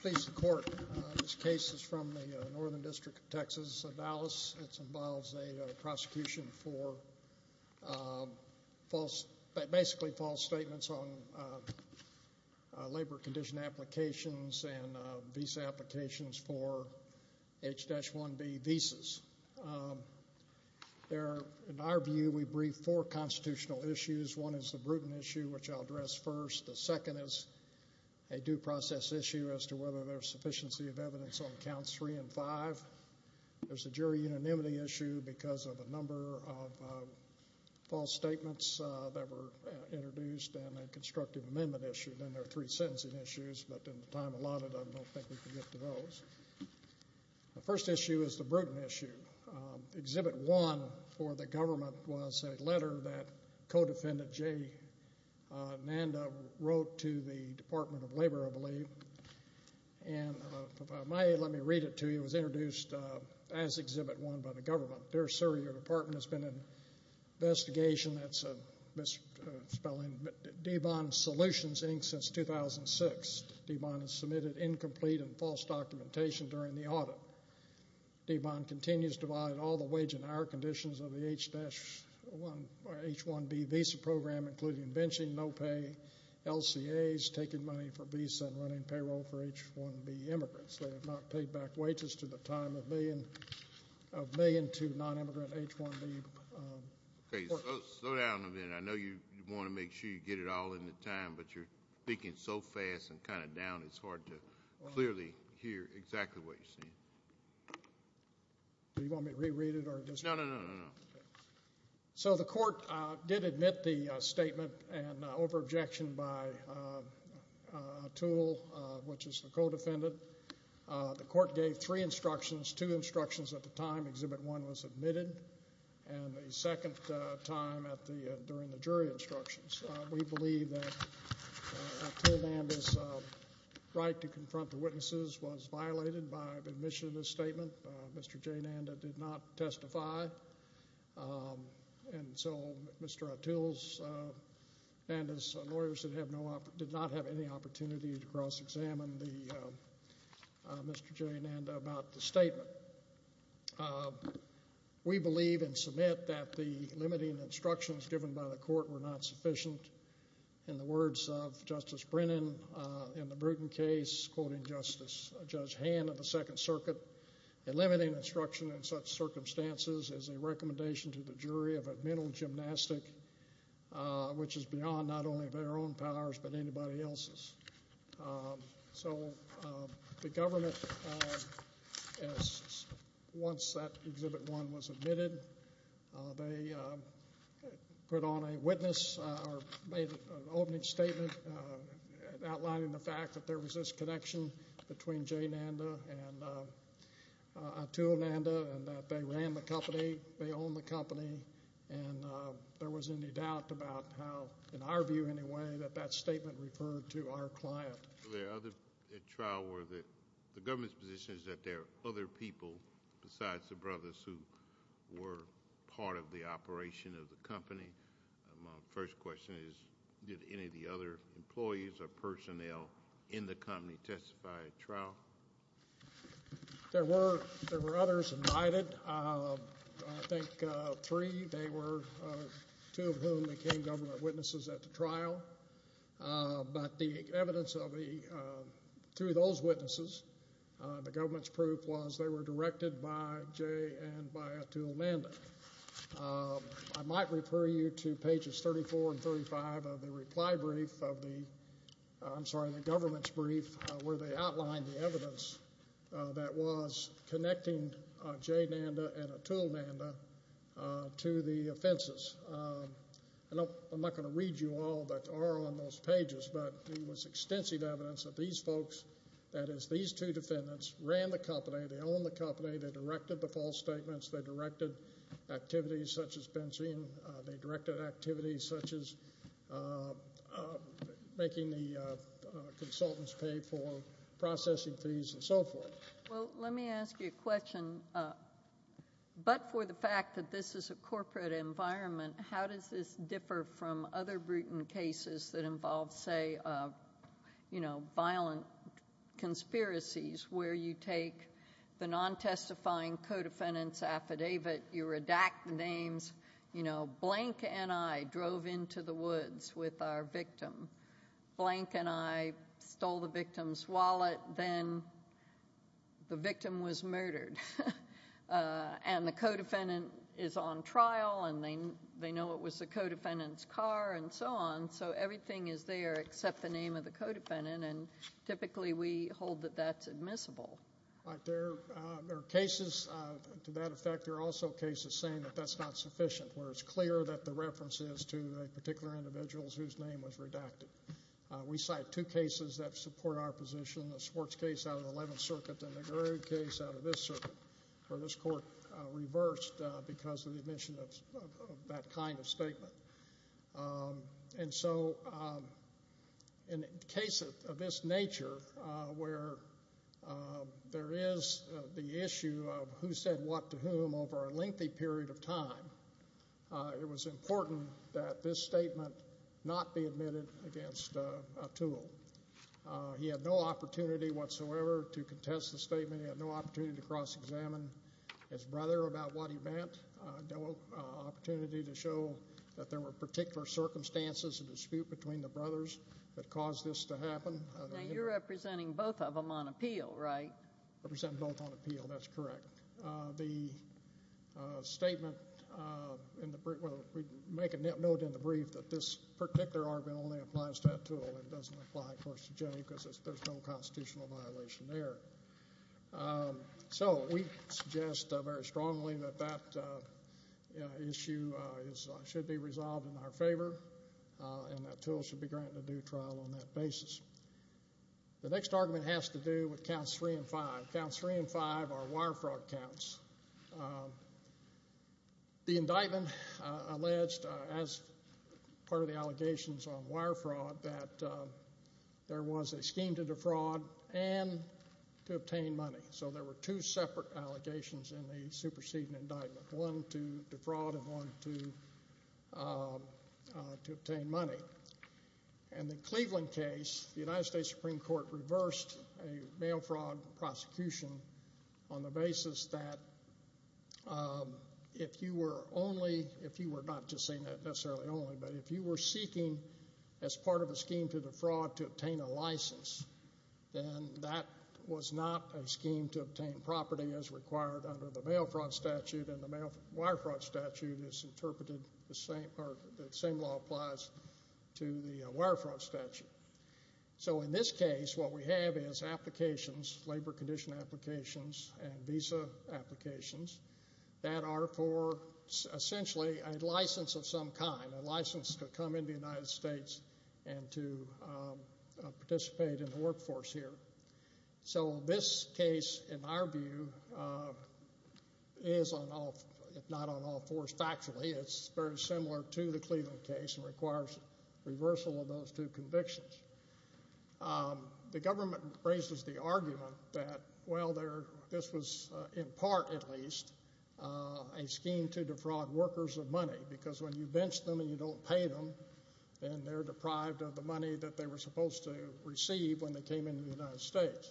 Please the court. This case is from the Northern District of Texas, Dallas. It involves a prosecution for basically false statements on labor condition applications and visa applications for H-1B visas. In our view, we brief four constitutional issues. One is the Bruton issue, which I'll address first. The second is a due process issue as to whether there's sufficiency of evidence on Counts 3 and 5. There's a jury unanimity issue because of a number of false statements that were introduced and a constructive amendment issue. Then there are three sentencing issues, but in the time allotted, I don't think we can get to those. The first issue is the Bruton issue. Exhibit 1 for the government was a letter that co-defendant J. Nanda wrote to the Department of Labor, I believe, and if I may, let me read it to you. It was introduced as Exhibit 1 by the government. Dear sir, your department has been an investigation that's a misspelling, D-Bond Solutions, Inc. since 2006. D-Bond has submitted incomplete and false documentation during the audit. D-Bond continues to violate all the wage and hour conditions of the H-1B visa program, including benching, no pay, LCAs, taking money for visa, and running payroll for H-1B immigrants. They have not paid back wages to the time of million to non-immigrant H-1B workers. Okay, slow down a minute. I know you want to make sure you get it all in the time, but you're speaking so fast and kind of down, it's hard to clearly hear exactly what you're saying. Do you want me to reread it? No, no. So the court did admit the statement and over-objection by Toole, which is the co-defendant. The court gave three instructions, two instructions at the time Exhibit 1 was admitted, and the right to confront the witnesses was violated by admission of this statement. Mr. J. Nanda did not testify, and so Mr. Atul's Nanda's lawyers did not have any opportunity to cross-examine Mr. J. Nanda about the statement. We believe and submit that the limiting instructions given by the court were not sufficient. In the words of Justice Brennan in the Bruton case, quoting Judge Hand of the Second Circuit, the limiting instruction in such circumstances is a recommendation to the jury of a mental gymnastic, which is beyond not only their own powers but anybody else's. So the government, once that Exhibit 1 was admitted, they put on a witness or made an opening statement outlining the fact that there was this connection between J. Nanda and Atul Nanda and that they ran the company, they owned the company, and there was any doubt about how, in our view anyway, that that statement referred to our client. The government's position is that there are other people besides the brothers who were part of the operation of the company. My first question is, did any of the other employees or personnel in the company testify at trial? There were others invited. I think three. They were two of whom became government witnesses at the trial. But the evidence of the, through those witnesses, the government's proof was they were directed by J. and by Atul Nanda. I might refer you to pages 34 and 35 of the reply brief of the, I'm sorry, the government's brief where they outlined the evidence that was connecting J. Nanda and Atul Nanda to the offenses. I'm not going to read you all that are on those pages, but there was extensive evidence that these folks, that is these two defendants, ran the company, they owned the company, they directed the false statements, they directed activities such as fencing, they directed activities such as making the consultants pay for processing fees and so forth. Well, let me ask you a question. But for the fact that this is a corporate environment, how does this differ from other brutal cases that involve, say, you know, violent conspiracies where you take the non-testifying co-defendant's affidavit, you redact the names, you know, stole the victim's wallet, then the victim was murdered. And the co-defendant is on trial and they know it was the co-defendant's car and so on, so everything is there except the name of the co-defendant, and typically we hold that that's admissible. But there are cases, to that effect, there are also cases saying that that's not sufficient, where it's clear that the reference is to a particular individual whose name was redacted. We cite two cases that support our position, the Swartz case out of the Eleventh Circuit and the Garud case out of this circuit, where this court reversed because of the omission of that kind of statement. And so in a case of this nature, where there is the issue of who said what to whom over a lengthy period of time, it was important that this statement not be admitted against Atul. He had no opportunity whatsoever to contest the statement. He had no opportunity to cross-examine his brother about what he meant, no opportunity to show that there were particular circumstances, a dispute between the brothers that caused this to happen. Now you're representing both of them on appeal, right? I represent both on appeal, that's correct. The statement in the brief, well, we make a note in the brief that this particular argument only applies to Atul and doesn't apply, of course, to Jay because there's no constitutional violation there. So we suggest very strongly that that issue should be resolved in our favor and Atul should be granted a due trial on that basis. The next argument has to do with counts three and five. Counts three and five are wire fraud counts. The indictment alleged, as part of the allegations on wire fraud, that there was a scheme to defraud and to obtain money. So there were two separate allegations in the superseding indictment, one to defraud and one to obtain money. In the Cleveland case, the United States Supreme Court reversed a mail fraud prosecution on the basis that if you were only, if you were not just saying that necessarily only, but if you were seeking as part of a scheme to defraud to obtain a license, then that was not a scheme to obtain property as required under the mail fraud statute and the wire fraud statute is interpreted the same, or the same law applies to the wire fraud statute. So in this case, what we have is applications, labor condition applications and visa applications that are for essentially a license of some kind, a license to come into the United States and to participate in the workforce here. So this case, in our view, is on all, if not on all fours factually. It's very similar to the Cleveland case and requires reversal of those two convictions. The government raises the argument that, well, there, this was in part at least, a scheme to defraud workers of money because when you bench them and you don't pay them then they're deprived of the money that they were supposed to receive when they came into the United States.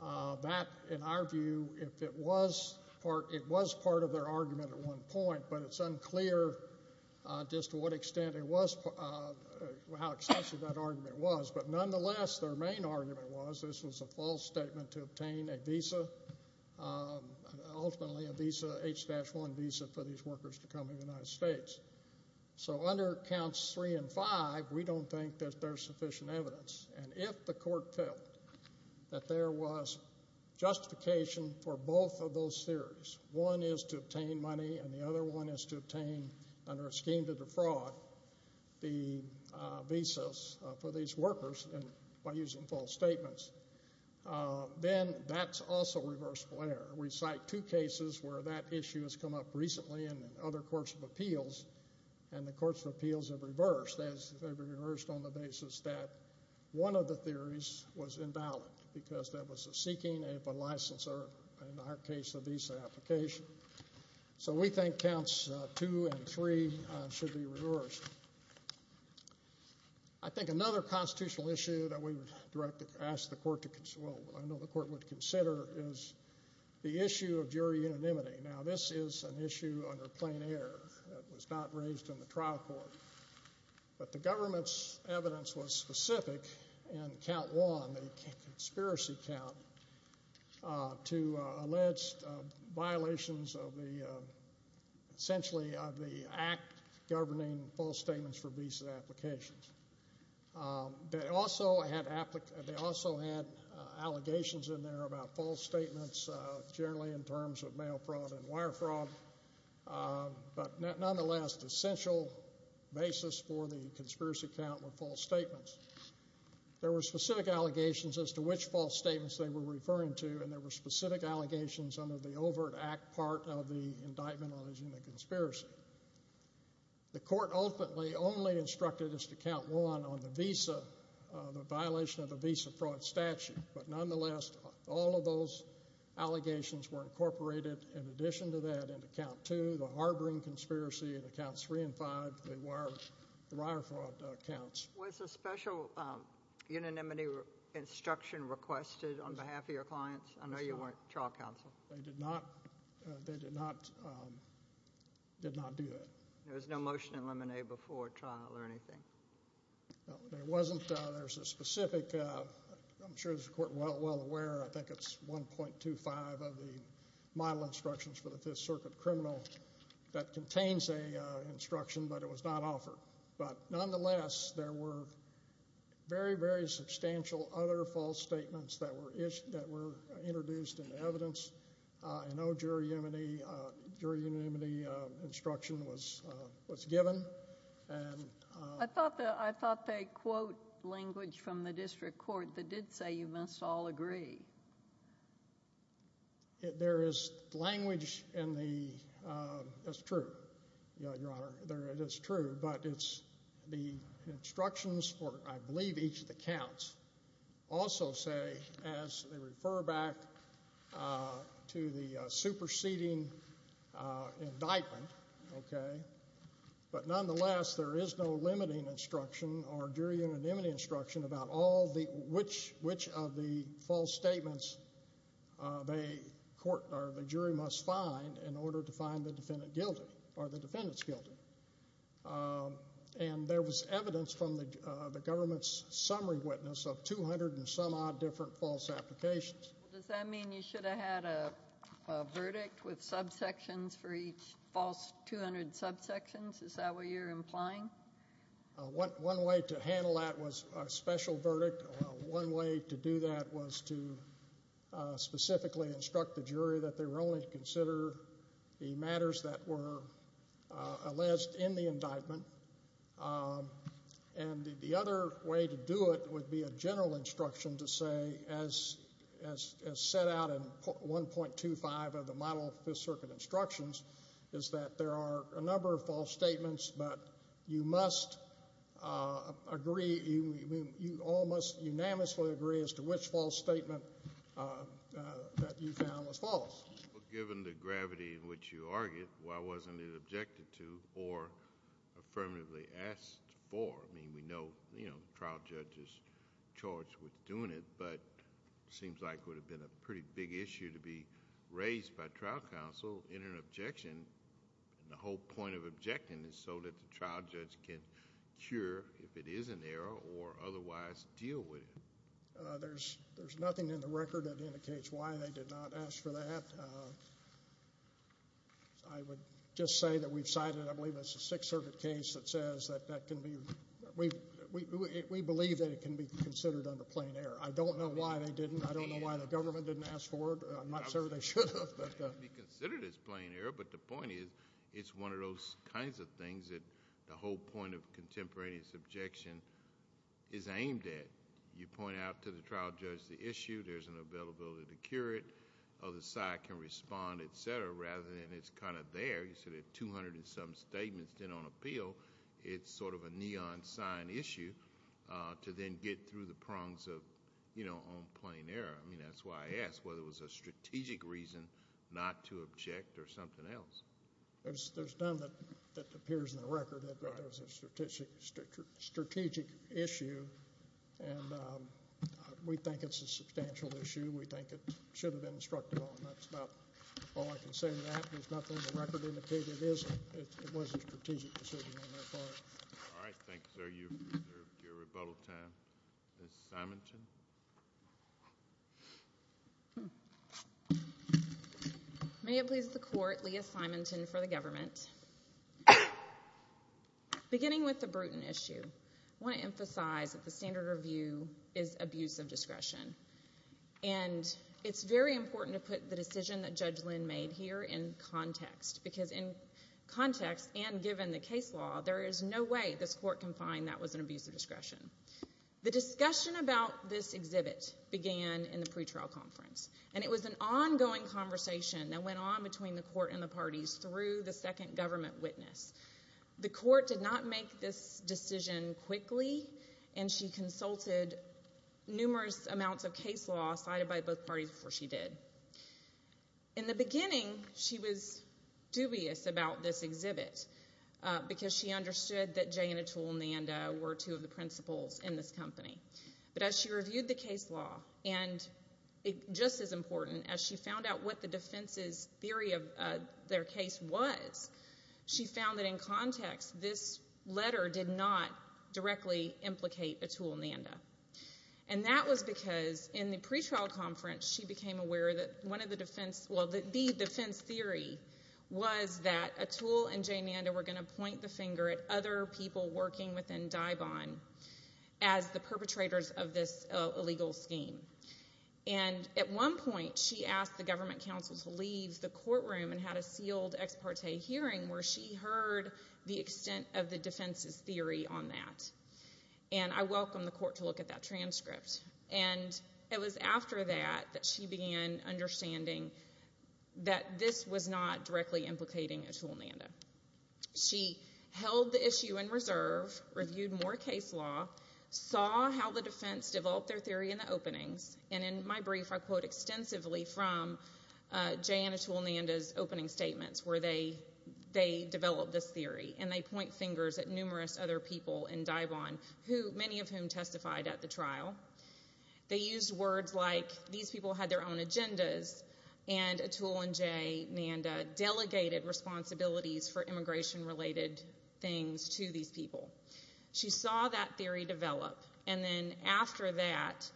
That, in our view, if it was part of their argument at one point, but it's unclear just to what extent it was, how excessive that argument was, but nonetheless their main argument was this was a false statement to obtain a visa, ultimately a visa, H-1 visa for these workers to come into the United States. So under Counts 3 and 5, we don't think that there's sufficient evidence. And if the court felt that there was justification for both of those theories, one is to obtain money and the other one is to obtain, under a scheme to defraud, the visas for these workers by using false statements, then that's also reversible error. We cite two cases where that issue has come up recently in other courts of appeals and the courts of appeals have reversed. They've reversed on the basis that one of the theories was invalid because there was a seeking of a license or, in our case, a visa application. So we think Counts 2 and 3 should be reversed. I think another constitutional issue that we would ask the court to consider, well, I know the court would consider, is the issue of jury unanimity. Now, this is an issue under plain error that was not raised in the trial court, but the government's evidence was specific in Count 1, the conspiracy count, to alleged violations of the, essentially, of the act governing false statements for visa applications. They also had allegations in there about false statements, generally in terms of mail fraud and wire fraud, but nonetheless the essential basis for the conspiracy count were false statements. There were specific allegations as to which false statements they were referring to and there were specific allegations under the overt act part of the indictment on the conspiracy. The court ultimately only instructed us to Count 1 on the visa, the violation of the visa fraud statute, but nonetheless all of those allegations were incorporated in addition to that into Count 2, the harboring conspiracy, and Counts 3 and 5, the wire fraud counts. Was a special unanimity instruction requested on behalf of your clients? I know you weren't trial counsel. They did not do that. There was no motion to eliminate before trial or anything? No, there wasn't. There was a specific, I'm sure the court is well aware, I think it's 1.25 of the model instructions for the Fifth Circuit criminal that contains an instruction, but it was not offered. But nonetheless, there were very, very substantial other false statements that were introduced in evidence. I know jury unanimity instruction was given. I thought they quote language from the district court that did say you must all agree. There is language in the, that's true, Your Honor. It is true, but it's the instructions for, I believe, each of the counts also say, as they refer back to the superseding indictment, okay, but nonetheless there is no limiting instruction or jury unanimity instruction about which of the false statements the jury must find in order to find the defendant guilty or the defendant's guilty. And there was evidence from the government's summary witness of 200 and some odd different false applications. Does that mean you should have had a verdict with subsections for each false 200 subsections? Is that what you're implying? One way to handle that was a special verdict. One way to do that was to specifically instruct the jury that they were only to consider the matters that were alleged in the indictment. And the other way to do it would be a general instruction to say, as set out in 1.25 of the model Fifth Circuit instructions, is that there are a number of false statements, but you all must unanimously agree as to which false statement that you found was false. Given the gravity in which you argue, why wasn't it objected to or affirmatively asked for? I mean, we know the trial judge is charged with doing it, but it seems like it would have been a pretty big issue to be raised by trial counsel in an objection. And the whole point of objecting is so that the trial judge can cure, if it is an error, or otherwise deal with it. There's nothing in the record that indicates why they did not ask for that. I would just say that we've cited, I believe it's a Sixth Circuit case that says that that can be, we believe that it can be considered under plain error. I don't know why they didn't. I don't know why the government didn't ask for it. I'm not sure they should have. It can be considered as plain error, but the point is, it's one of those kinds of things that the whole point of contemporaneous objection is aimed at. You point out to the trial judge the issue, there's an availability to cure it, other side can respond, et cetera, rather than it's kind of there. You said there are 200 and some statements on appeal. It's sort of a neon sign issue to then get through the prongs of, you know, on plain error. I mean, that's why I asked whether it was a strategic reason not to object or something else. There's none that appears in the record that there was a strategic issue, and we think it's a substantial issue. We think it should have been instructed on. That's about all I can say to that. There's nothing in the record that indicates it wasn't a strategic decision on their part. All right. Thank you, sir. Thank you for your rebuttal time. Ms. Simonton. May it please the Court, Leah Simonton for the government. Beginning with the Bruton issue, I want to emphasize that the standard of view is abuse of discretion, and it's very important to put the decision that Judge Lynn made here in context, because in context and given the case law, there is no way this Court can find that was an abuse of discretion. The discussion about this exhibit began in the pretrial conference, and it was an ongoing conversation that went on between the Court and the parties through the second government witness. The Court did not make this decision quickly, and she consulted numerous amounts of case law cited by both parties before she did. In the beginning, she was dubious about this exhibit because she understood that Jay and Atul Nanda were two of the principals in this company. But as she reviewed the case law, and just as important, as she found out what the defense's theory of their case was, she found that in context this letter did not directly implicate Atul Nanda. And that was because in the pretrial conference she became aware that one of the defense, well, the defense theory was that Atul and Jay Nanda were going to point the finger at other people working within Daibon as the perpetrators of this illegal scheme. And at one point she asked the government counsel to leave the courtroom and had a sealed ex parte hearing where she heard the extent of the defense's theory on that. And I welcome the Court to look at that transcript. And it was after that that she began understanding that this was not directly implicating Atul Nanda. She held the issue in reserve, reviewed more case law, saw how the defense developed their theory in the openings, and in my brief I quote extensively from Jay and Atul Nanda's opening statements where they developed this theory, and they point fingers at numerous other people in Daibon, many of whom testified at the trial. They used words like, these people had their own agendas, and Atul and Jay Nanda delegated responsibilities for immigration-related things to these people. She saw that theory develop, and then after that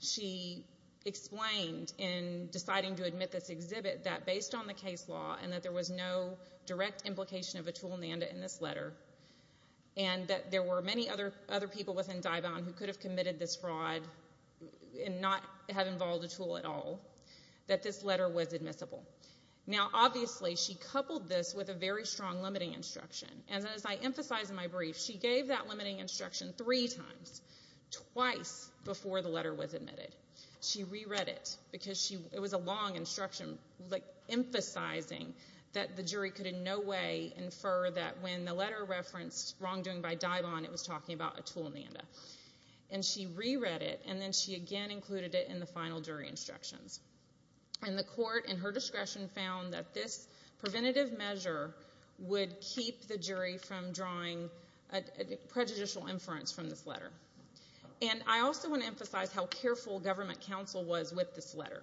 she explained in deciding to admit this exhibit that based on the case law and that there was no direct implication of Atul Nanda in this letter, and that there were many other people within Daibon who could have committed this fraud and not have involved Atul at all, that this letter was admissible. Now obviously she coupled this with a very strong limiting instruction. And as I emphasized in my brief, she gave that limiting instruction three times, twice before the letter was admitted. She re-read it because it was a long instruction, emphasizing that the jury could in no way infer that when the letter referenced wrongdoing by Daibon, it was talking about Atul Nanda. And she re-read it, and then she again included it in the final jury instructions. And the court in her discretion found that this preventative measure would keep the jury from drawing a prejudicial inference from this letter. And I also want to emphasize how careful government counsel was with this letter.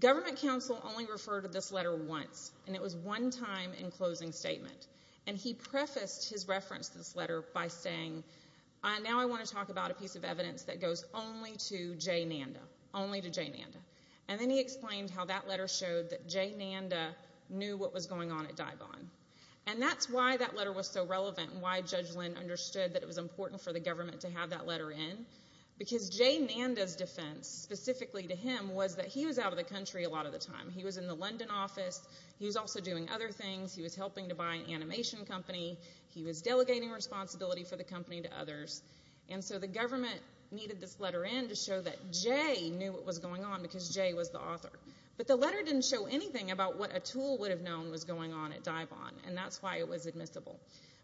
Government counsel only referred to this letter once, and it was one time in closing statement. And he prefaced his reference to this letter by saying, now I want to talk about a piece of evidence that goes only to Jay Nanda, only to Jay Nanda. And then he explained how that letter showed that Jay Nanda knew what was going on at Daibon. And that's why that letter was so relevant and why Judge Lynn understood that it was important for the government to have that letter in, because Jay Nanda's defense specifically to him was that he was out of the country a lot of the time. He was in the London office. He was also doing other things. He was helping to buy an animation company. He was delegating responsibility for the company to others. And so the government needed this letter in to show that Jay knew what was going on because Jay was the author. But the letter didn't show anything about what Atul would have known was going on at Daibon, and that's why it was admissible.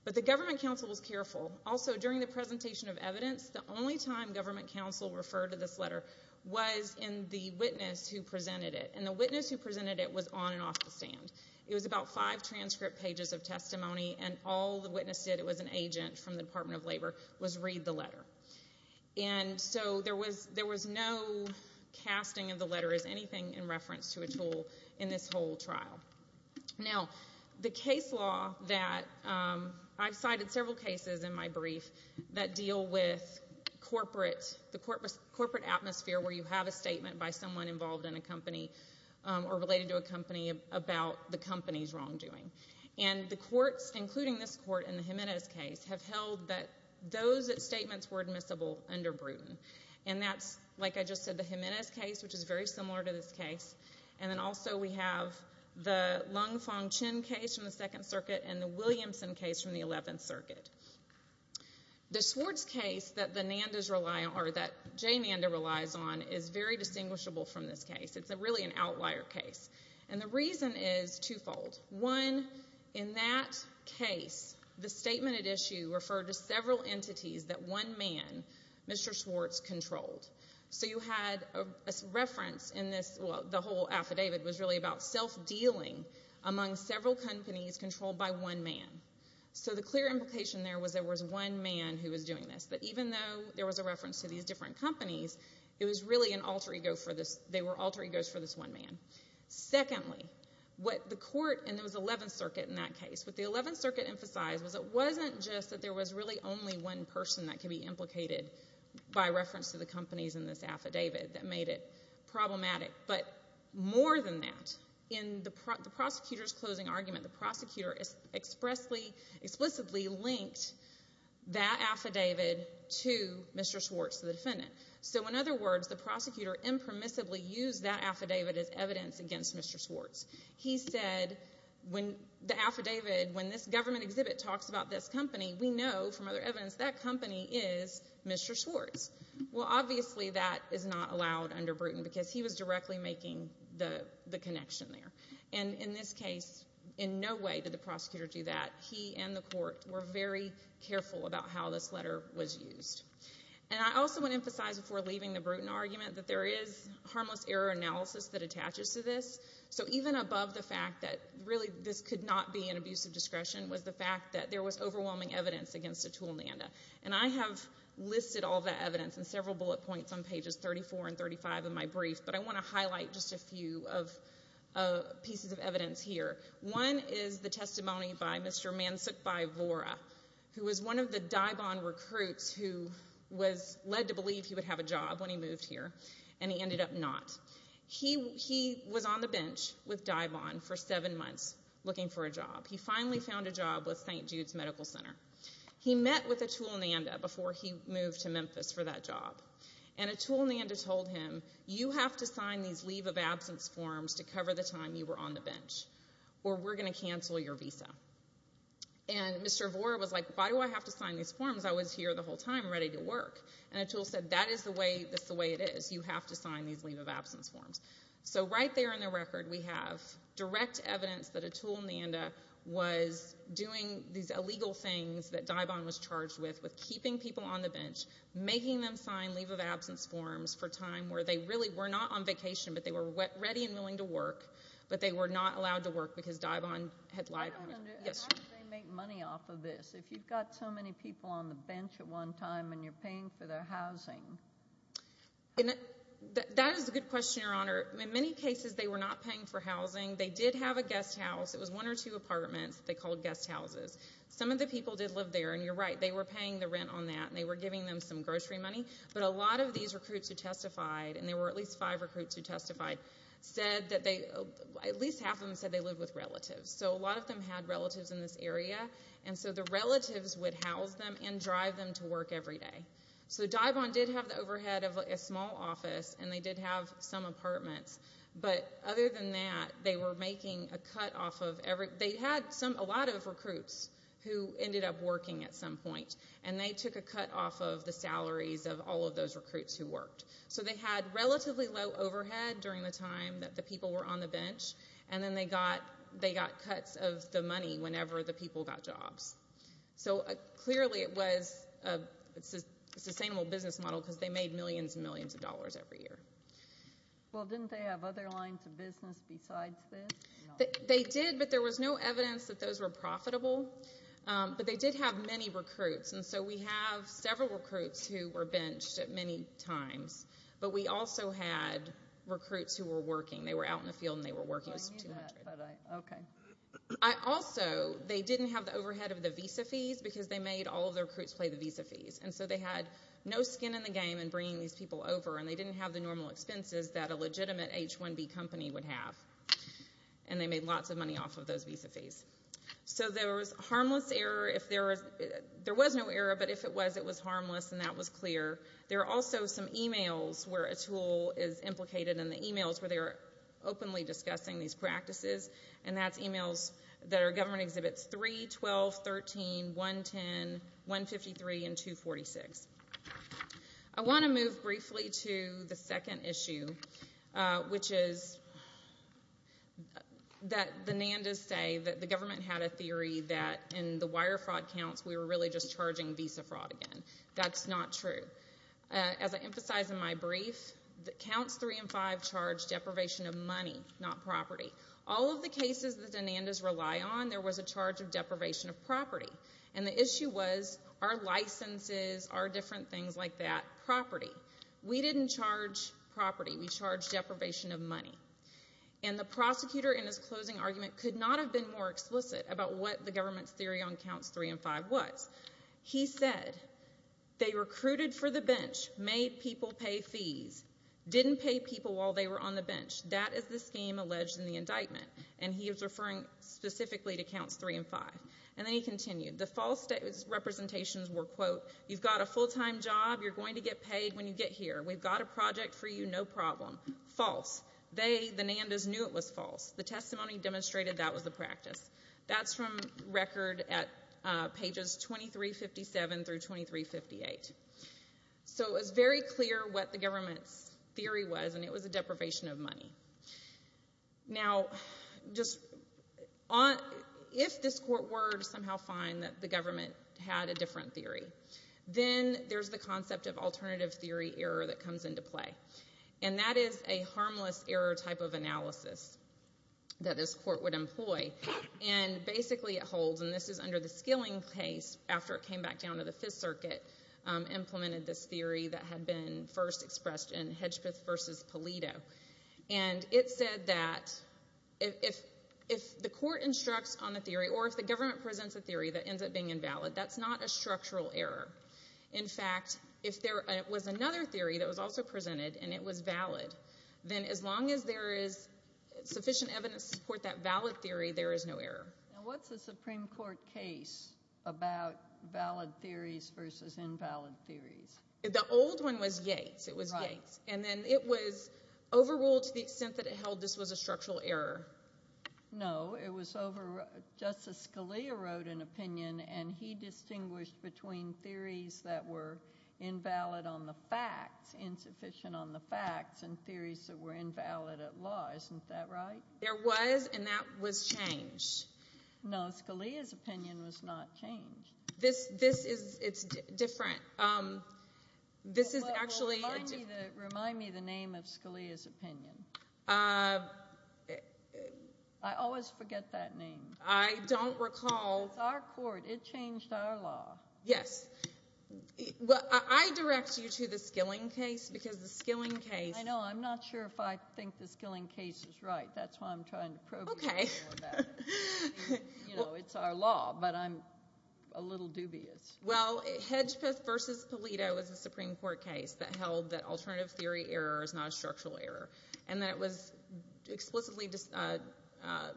But the government counsel was careful. Also, during the presentation of evidence, the only time government counsel referred to this letter was in the witness who presented it. And the witness who presented it was on and off the stand. It was about five transcript pages of testimony, and all the witness did, it was an agent from the Department of Labor, was read the letter. And so there was no casting of the letter as anything in reference to Atul in this whole trial. Now, the case law that I've cited several cases in my brief that deal with corporate atmosphere where you have a statement by someone involved in a company or related to a company about the company's wrongdoing. And the courts, including this court in the Jimenez case, have held that those statements were admissible under Bruton. And that's, like I just said, the Jimenez case, which is very similar to this case. And then also we have the Lung Fong Chin case from the Second Circuit and the Williamson case from the Eleventh Circuit. The Swartz case that Jay Nanda relies on is very distinguishable from this case. It's really an outlier case. And the reason is twofold. One, in that case, the statement at issue referred to several entities that one man, Mr. Swartz, controlled. So you had a reference in this. Well, the whole affidavit was really about self-dealing among several companies controlled by one man. So the clear implication there was there was one man who was doing this. But even though there was a reference to these different companies, it was really an alter ego for this. They were alter egos for this one man. Secondly, what the court, and it was Eleventh Circuit in that case, what the Eleventh Circuit emphasized was it wasn't just that there was really only one person that could be implicated by reference to the companies in this affidavit that made it problematic. But more than that, in the prosecutor's closing argument, the prosecutor explicitly linked that affidavit to Mr. Swartz, the defendant. So in other words, the prosecutor impermissibly used that affidavit as evidence against Mr. Swartz. He said, when the affidavit, when this government exhibit talks about this company, we know from other evidence that company is Mr. Swartz. Well, obviously that is not allowed under Bruton because he was directly making the connection there. And in this case, in no way did the prosecutor do that. He and the court were very careful about how this letter was used. And I also want to emphasize before leaving the Bruton argument that there is harmless error analysis that attaches to this. So even above the fact that really this could not be an abuse of discretion was the fact that there was overwhelming evidence against Atul Nanda. And I have listed all that evidence in several bullet points on pages 34 and 35 of my brief, but I want to highlight just a few pieces of evidence here. One is the testimony by Mr. Mansukh Bhai Vora, who was one of the Dai Bon recruits who was led to believe he would have a job when he moved here, and he ended up not. He was on the bench with Dai Bon for seven months looking for a job. He finally found a job with St. Jude's Medical Center. He met with Atul Nanda before he moved to Memphis for that job. And Atul Nanda told him, you have to sign these leave of absence forms to cover the time you were on the bench. Or we're going to cancel your visa. And Mr. Vora was like, why do I have to sign these forms? I was here the whole time ready to work. And Atul said, that is the way it is. You have to sign these leave of absence forms. So right there in the record we have direct evidence that Atul Nanda was doing these illegal things that Dai Bon was charged with, with keeping people on the bench, making them sign leave of absence forms for time where they really were not on vacation, but they were ready and willing to work, but they were not allowed to work because Dai Bon had lied to them. How did they make money off of this if you've got so many people on the bench at one time and you're paying for their housing? That is a good question, Your Honor. In many cases they were not paying for housing. They did have a guest house. It was one or two apartments that they called guest houses. Some of the people did live there, and you're right. They were paying the rent on that, and they were giving them some grocery money. But a lot of these recruits who testified, and there were at least five recruits who testified, at least half of them said they lived with relatives. So a lot of them had relatives in this area. And so the relatives would house them and drive them to work every day. So Dai Bon did have the overhead of a small office, and they did have some apartments. But other than that, they were making a cut off of everything. They had a lot of recruits who ended up working at some point, and they took a cut off of the salaries of all of those recruits who worked. So they had relatively low overhead during the time that the people were on the bench, and then they got cuts of the money whenever the people got jobs. So clearly it was a sustainable business model because they made millions and millions of dollars every year. Well, didn't they have other lines of business besides this? They did, but there was no evidence that those were profitable. But they did have many recruits, and so we have several recruits who were benched at many times, but we also had recruits who were working. They were out in the field and they were working. Also, they didn't have the overhead of the visa fees because they made all of the recruits play the visa fees. And so they had no skin in the game in bringing these people over, and they didn't have the normal expenses that a legitimate H-1B company would have, and they made lots of money off of those visa fees. So there was harmless error. There was no error, but if it was, it was harmless, and that was clear. There are also some e-mails where a tool is implicated in the e-mails where they are openly discussing these practices, and that's e-mails that are government exhibits 3, 12, 13, 110, 153, and 246. I want to move briefly to the second issue, which is that the NANDAs say that the government had a theory that in the wire fraud counts, we were really just charging visa fraud again. That's not true. As I emphasized in my brief, the counts 3 and 5 charge deprivation of money, not property. All of the cases that the NANDAs rely on, there was a charge of deprivation of property, and the issue was our licenses, our different things like that, property. We didn't charge property. We charged deprivation of money, and the prosecutor in his closing argument could not have been more explicit about what the government's theory on counts 3 and 5 was. He said they recruited for the bench, made people pay fees, didn't pay people while they were on the bench. That is the scheme alleged in the indictment, and he was referring specifically to counts 3 and 5, and then he continued. The false representations were, quote, you've got a full-time job, you're going to get paid when you get here, we've got a project for you, no problem. False. They, the NANDAs, knew it was false. The testimony demonstrated that was the practice. That's from record at pages 2357 through 2358. So it was very clear what the government's theory was, and it was a deprivation of money. Now, if this court were to somehow find that the government had a different theory, then there's the concept of alternative theory error that comes into play, and that is a harmless error type of analysis that this court would employ, and basically it holds, and this is under the Skilling case, after it came back down to the Fifth Circuit, implemented this theory that had been first expressed in Hedgpeth v. Polito, and it said that if the court instructs on a theory, or if the government presents a theory that ends up being invalid, that's not a structural error. In fact, if there was another theory that was also presented and it was valid, then as long as there is sufficient evidence to support that valid theory, there is no error. Now, what's a Supreme Court case about valid theories versus invalid theories? The old one was Yates. It was Yates, and then it was overruled to the extent that it held this was a structural error. No, it was overruled. Justice Scalia wrote an opinion, and he distinguished between theories that were invalid on the facts, insufficient on the facts, and theories that were invalid at law. Isn't that right? There was, and that was changed. No, Scalia's opinion was not changed. This is different. This is actually a different. Remind me the name of Scalia's opinion. I always forget that name. I don't recall. It's our court. It changed our law. Yes. I direct you to the Skilling case because the Skilling case. I know. I'm not sure if I think the Skilling case is right. That's why I'm trying to probe you more about it. Okay. It's our law, but I'm a little dubious. Well, Hedgpeth v. Polito is a Supreme Court case that held that alternative theory error is not a structural error, and that it was explicitly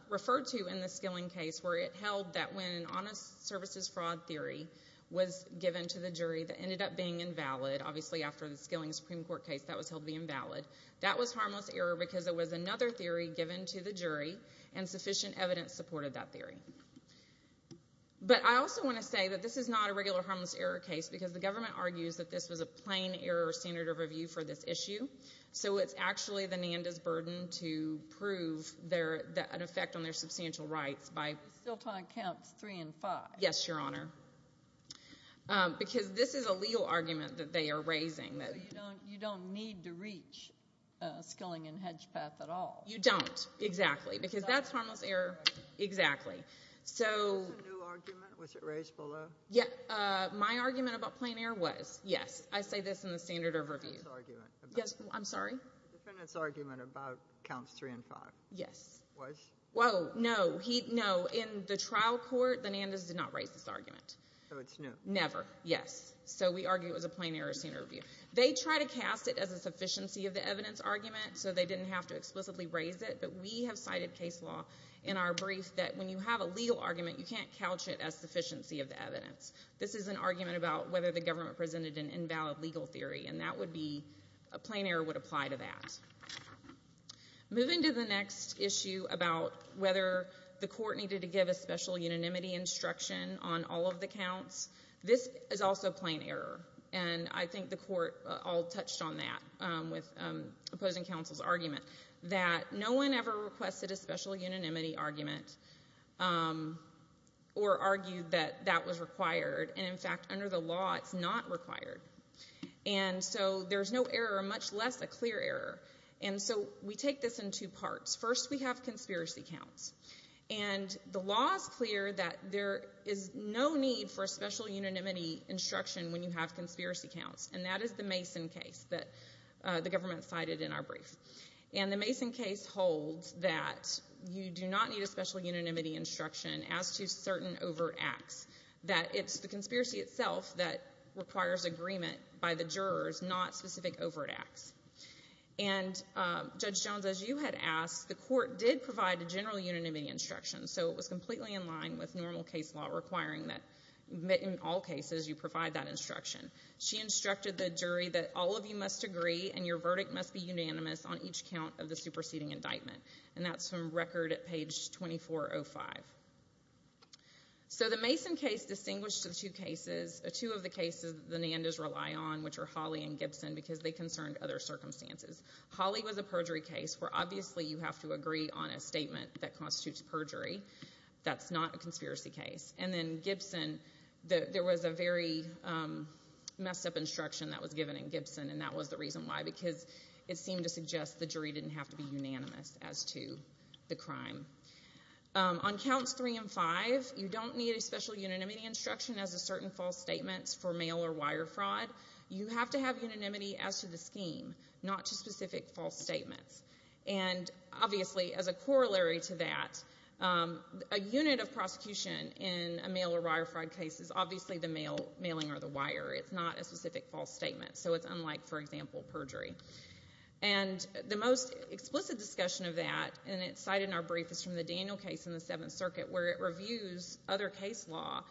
referred to in the Skilling case where it held that when an honest services fraud theory was given to the jury that ended up being invalid, obviously after the Skilling Supreme Court case that was held to be invalid, that was harmless error because it was another theory given to the jury, and sufficient evidence supported that theory. But I also want to say that this is not a regular harmless error case because the government argues that this was a plain error standard of review for this issue, so it's actually the NANDA's burden to prove an effect on their substantial rights. Still time counts three and five. Yes, Your Honor. Because this is a legal argument that they are raising. So you don't need to reach Skilling and Hedgpeth at all. You don't, exactly, because that's harmless error. Exactly. Was there a new argument? Was it raised below? My argument about plain error was, yes. I say this in the standard of review. The defendant's argument about counts three and five. Yes. Was? Whoa, no. No, in the trial court, the NANDA's did not raise this argument. So it's no. Never, yes. So we argue it was a plain error standard of review. They try to cast it as a sufficiency of the evidence argument, so they didn't have to explicitly raise it, but we have cited case law in our brief that when you have a legal argument, you can't couch it as sufficiency of the evidence. This is an argument about whether the government presented an invalid legal theory, and that would be a plain error would apply to that. Moving to the next issue about whether the court needed to give a special unanimity instruction on all of the counts, this is also plain error, and I think the court all touched on that with opposing counsel's argument, that no one ever requested a special unanimity argument or argued that that was required. And, in fact, under the law, it's not required. And so there's no error, much less a clear error. And so we take this in two parts. First, we have conspiracy counts, and the law is clear that there is no need for a special unanimity instruction when you have conspiracy counts, and that is the Mason case that the government cited in our brief. And the Mason case holds that you do not need a special unanimity instruction as to certain overt acts, that it's the conspiracy itself that requires agreement by the jurors, not specific overt acts. And, Judge Jones, as you had asked, the court did provide a general unanimity instruction, so it was completely in line with normal case law, requiring that in all cases you provide that instruction. She instructed the jury that all of you must agree and your verdict must be unanimous on each count of the superseding indictment, and that's from record at page 2405. So the Mason case distinguished the two cases, two of the cases that the Nandas rely on, which are Hawley and Gibson, because they concerned other circumstances. Hawley was a perjury case, where obviously you have to agree on a statement that constitutes perjury. That's not a conspiracy case. And then Gibson, there was a very messed-up instruction that was given in Gibson, and that was the reason why, because it seemed to suggest the jury didn't have to be unanimous as to the crime. On counts 3 and 5, you don't need a special unanimity instruction as a certain false statement for mail or wire fraud. You have to have unanimity as to the scheme, not to specific false statements. And, obviously, as a corollary to that, a unit of prosecution in a mail or wire fraud case is obviously the mailing or the wire. It's not a specific false statement, so it's unlike, for example, perjury. And the most explicit discussion of that, and it's cited in our brief, is from the Daniel case in the Seventh Circuit, where it reviews other case law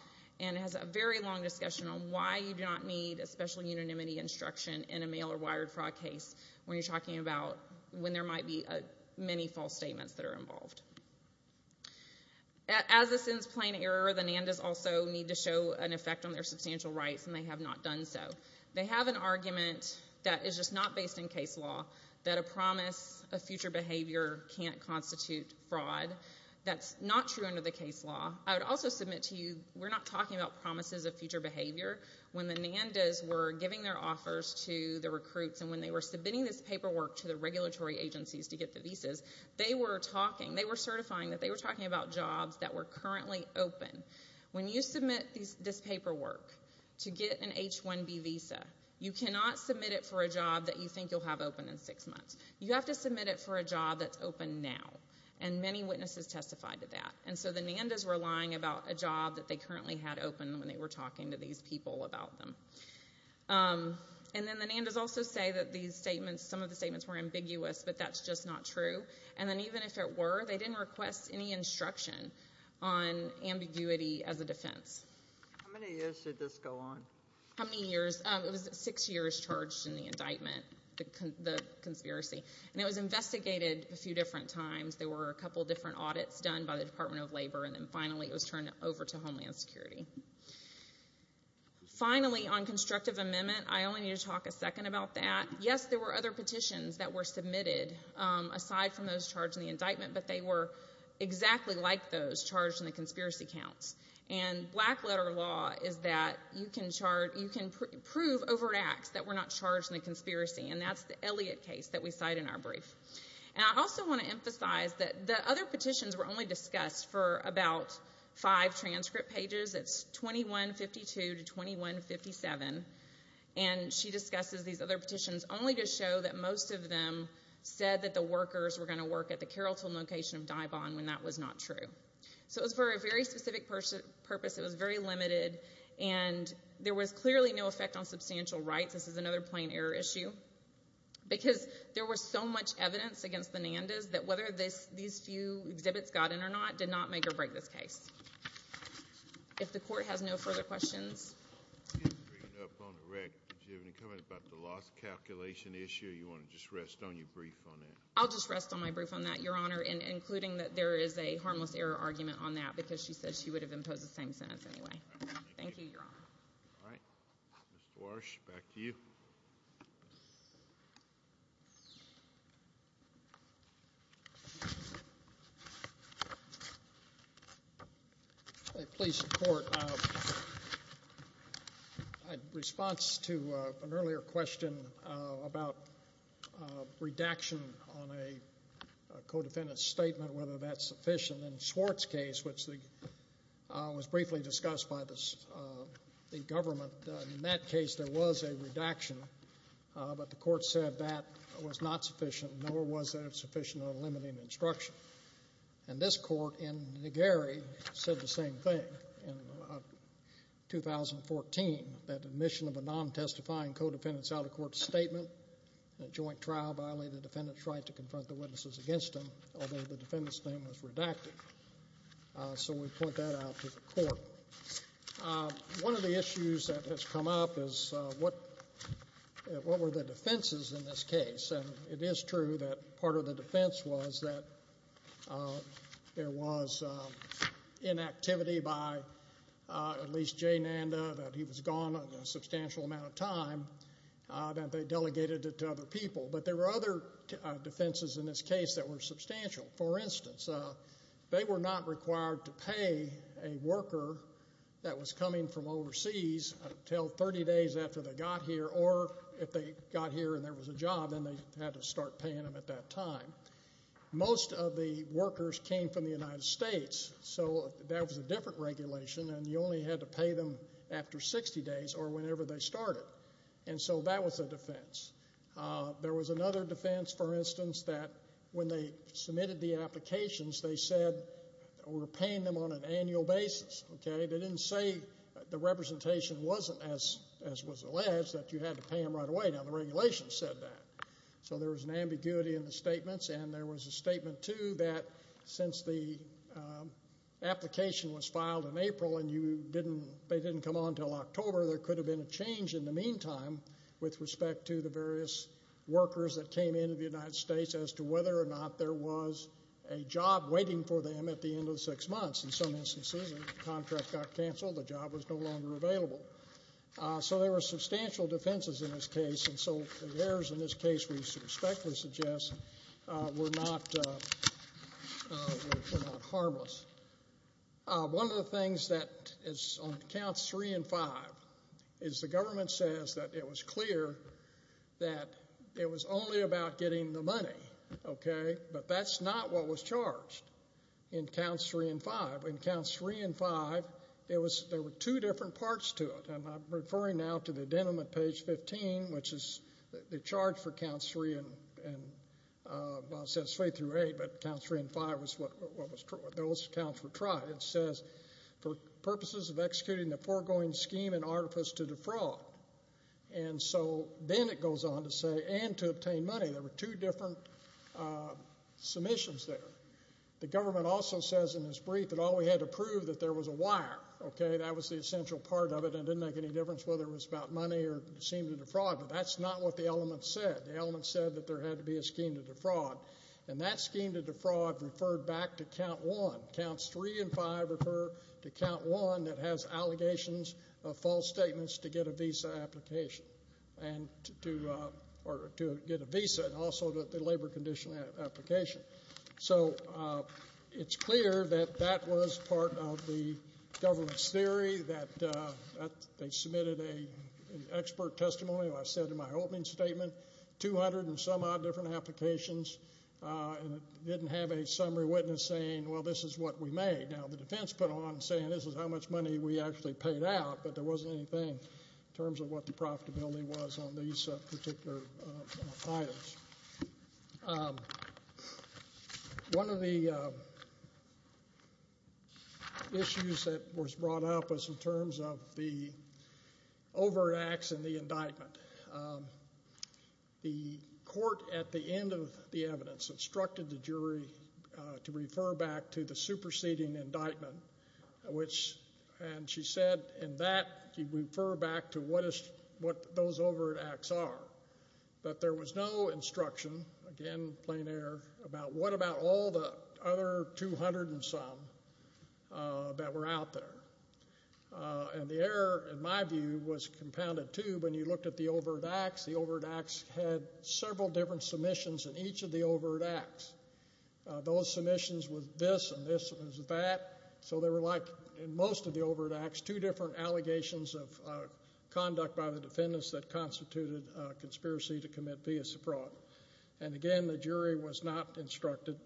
and has a very long discussion on why you do not need a special unanimity instruction in a mail or wire fraud case when you're talking about when there might be many false statements that are involved. As this is plain error, the NANDAs also need to show an effect on their substantial rights, and they have not done so. They have an argument that is just not based in case law, that a promise of future behavior can't constitute fraud. That's not true under the case law. I would also submit to you, we're not talking about promises of future behavior. When the NANDAs were giving their offers to the recruits and when they were submitting this paperwork to the regulatory agencies to get the visas, they were talking, they were certifying that they were talking about jobs that were currently open. When you submit this paperwork to get an H-1B visa, you cannot submit it for a job that you think you'll have open in six months. You have to submit it for a job that's open now. And many witnesses testified to that. And so the NANDAs were lying about a job that they currently had open when they were talking to these people about them. And then the NANDAs also say that these statements, some of the statements were ambiguous, but that's just not true. And then even if it were, they didn't request any instruction on ambiguity as a defense. How many years did this go on? How many years? It was six years charged in the indictment, the conspiracy. And it was investigated a few different times. There were a couple different audits done by the Department of Labor, and then finally it was turned over to Homeland Security. Finally, on constructive amendment, I only need to talk a second about that. Yes, there were other petitions that were submitted aside from those charged in the indictment, but they were exactly like those charged in the conspiracy counts. And black letter law is that you can prove over an ax that we're not charged in the conspiracy, and that's the Elliott case that we cite in our brief. And I also want to emphasize that the other petitions were only discussed for about five transcript pages. It's 2152 to 2157. And she discusses these other petitions only to show that most of them said that the workers were going to work at the Carrollton location of Daubon when that was not true. So it was for a very specific purpose. It was very limited. And there was clearly no effect on substantial rights. This is another plain error issue. Because there was so much evidence against the Nandas that whether these few exhibits got in or not did not make or break this case. If the Court has no further questions. If you have any comment about the loss calculation issue, you want to just rest on your brief on that? I'll just rest on my brief on that, Your Honor, including that there is a harmless error argument on that because she said she would have imposed the same sentence anyway. Thank you, Your Honor. All right. Mr. Warsh, back to you. Please, Court. In response to an earlier question about redaction on a co-defendant's statement, whether that's sufficient, in Swartz's case, which was briefly discussed by the government, in that case there was a redaction. But the Court said that was not sufficient, nor was it sufficient on limiting instruction. And this Court in Negeri said the same thing in 2014, that admission of a non-testifying co-defendant is out of the Court's statement. In a joint trial, violating the defendant's right to confront the witnesses against him, although the defendant's name was redacted. So we put that out to the Court. One of the issues that has come up is what were the defenses in this case? And it is true that part of the defense was that there was inactivity by at least J. Nanda, that he was gone a substantial amount of time, that they delegated it to other people. But there were other defenses in this case that were substantial. For instance, they were not required to pay a worker that was coming from overseas until 30 days after they got here, or if they got here and there was a job, then they had to start paying them at that time. Most of the workers came from the United States, so that was a different regulation, and you only had to pay them after 60 days or whenever they started. And so that was a defense. There was another defense, for instance, that when they submitted the applications, they said we're paying them on an annual basis. They didn't say the representation wasn't as was alleged, that you had to pay them right away. So there was an ambiguity in the statements, and there was a statement, too, that since the application was filed in April and they didn't come on until October, there could have been a change in the meantime with respect to the various workers that came into the United States as to whether or not there was a job waiting for them at the end of six months. In some instances, the contract got canceled, the job was no longer available. So there were substantial defenses in this case, and so the errors in this case, we respectfully suggest, were not harmless. One of the things that is on Counts 3 and 5 is the government says that it was clear that it was only about getting the money, but that's not what was charged in Counts 3 and 5. In Counts 3 and 5, there were two different parts to it, and I'm referring now to the Denim at page 15, which is the charge for Counts 3 and, well, it says 3 through 8, but Counts 3 and 5 was what those counts were tried. It says, for purposes of executing the foregoing scheme and artifice to defraud. And so then it goes on to say, and to obtain money. There were two different submissions there. The government also says in its brief that all we had to prove that there was a wire. Okay, that was the essential part of it, and it didn't make any difference whether it was about money or seemed to defraud, but that's not what the element said. The element said that there had to be a scheme to defraud, and that scheme to defraud referred back to Count 1. Counts 3 and 5 refer to Count 1 that has allegations of false statements to get a visa application and to get a visa, and also the labor condition application. So it's clear that that was part of the government's theory, that they submitted an expert testimony, as I said in my opening statement, 200 and some odd different applications, and it didn't have a summary witness saying, well, this is what we made. Now, the defense put on saying this is how much money we actually paid out, but there wasn't anything in terms of what the profitability was on these particular files. One of the issues that was brought up was in terms of the overreacts in the indictment. The court at the end of the evidence instructed the jury to refer back to the superseding indictment, and she said in that she'd refer back to what those overreacts are. But there was no instruction, again, plain error, about what about all the other 200 and some that were out there. And the error, in my view, was compounded to when you looked at the overreacts, the overreacts had several different submissions in each of the overreacts. Those submissions were this and this and that. So they were like, in most of the overreacts, two different allegations of conduct by the defendants that constituted a conspiracy to commit vius fraud. And, again, the jury was not instructed,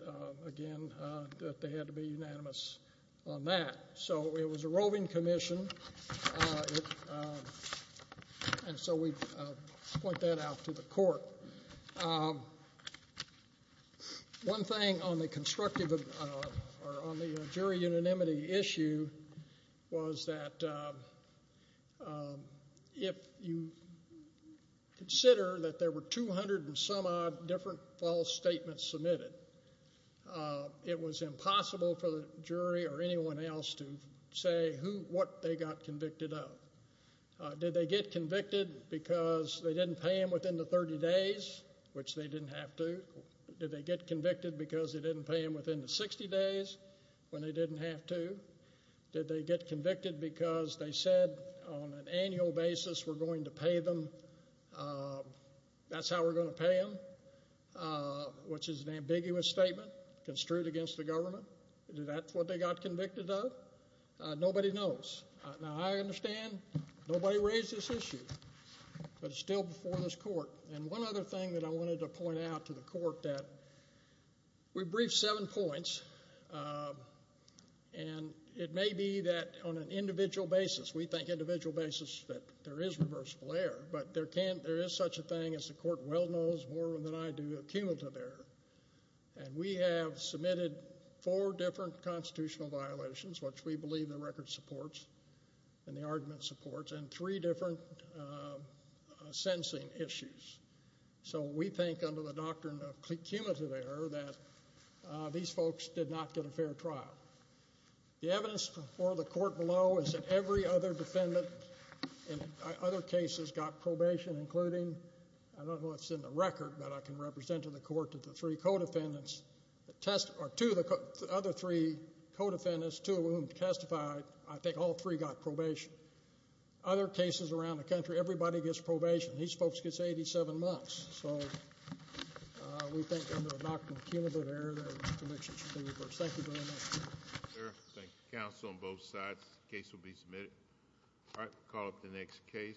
again, that they had to be unanimous on that. So it was a roving commission, and so we point that out to the court. One thing on the jury unanimity issue was that if you consider that there were 200 and some odd different false statements submitted, it was impossible for the jury or anyone else to say what they got convicted of. Did they get convicted because they didn't pay them within the 30 days, which they didn't have to? Did they get convicted because they didn't pay them within the 60 days when they didn't have to? Did they get convicted because they said on an annual basis we're going to pay them, that's how we're going to pay them, which is an ambiguous statement construed against the government? Is that what they got convicted of? Nobody knows. Now, I understand nobody raised this issue, but it's still before this court. And one other thing that I wanted to point out to the court that we briefed seven points, and it may be that on an individual basis, we think individual basis, that there is reversible error, but there is such a thing as the court well knows more than I do of cumulative error. And we have submitted four different constitutional violations, which we believe the record supports and the argument supports, and three different sentencing issues. So we think under the doctrine of cumulative error that these folks did not get a fair trial. The evidence for the court below is that every other defendant in other cases got probation, including, I don't know what's in the record, but I can represent to the court that the three co-defendants, or two of the other three co-defendants, two of whom testified, I think all three got probation. Other cases around the country, everybody gets probation. These folks get 87 months. So we think under the doctrine of cumulative error, their convictions should be reversed. Thank you very much. Thank you, sir. Thank you, counsel, on both sides. The case will be submitted. All right, we'll call up the next case.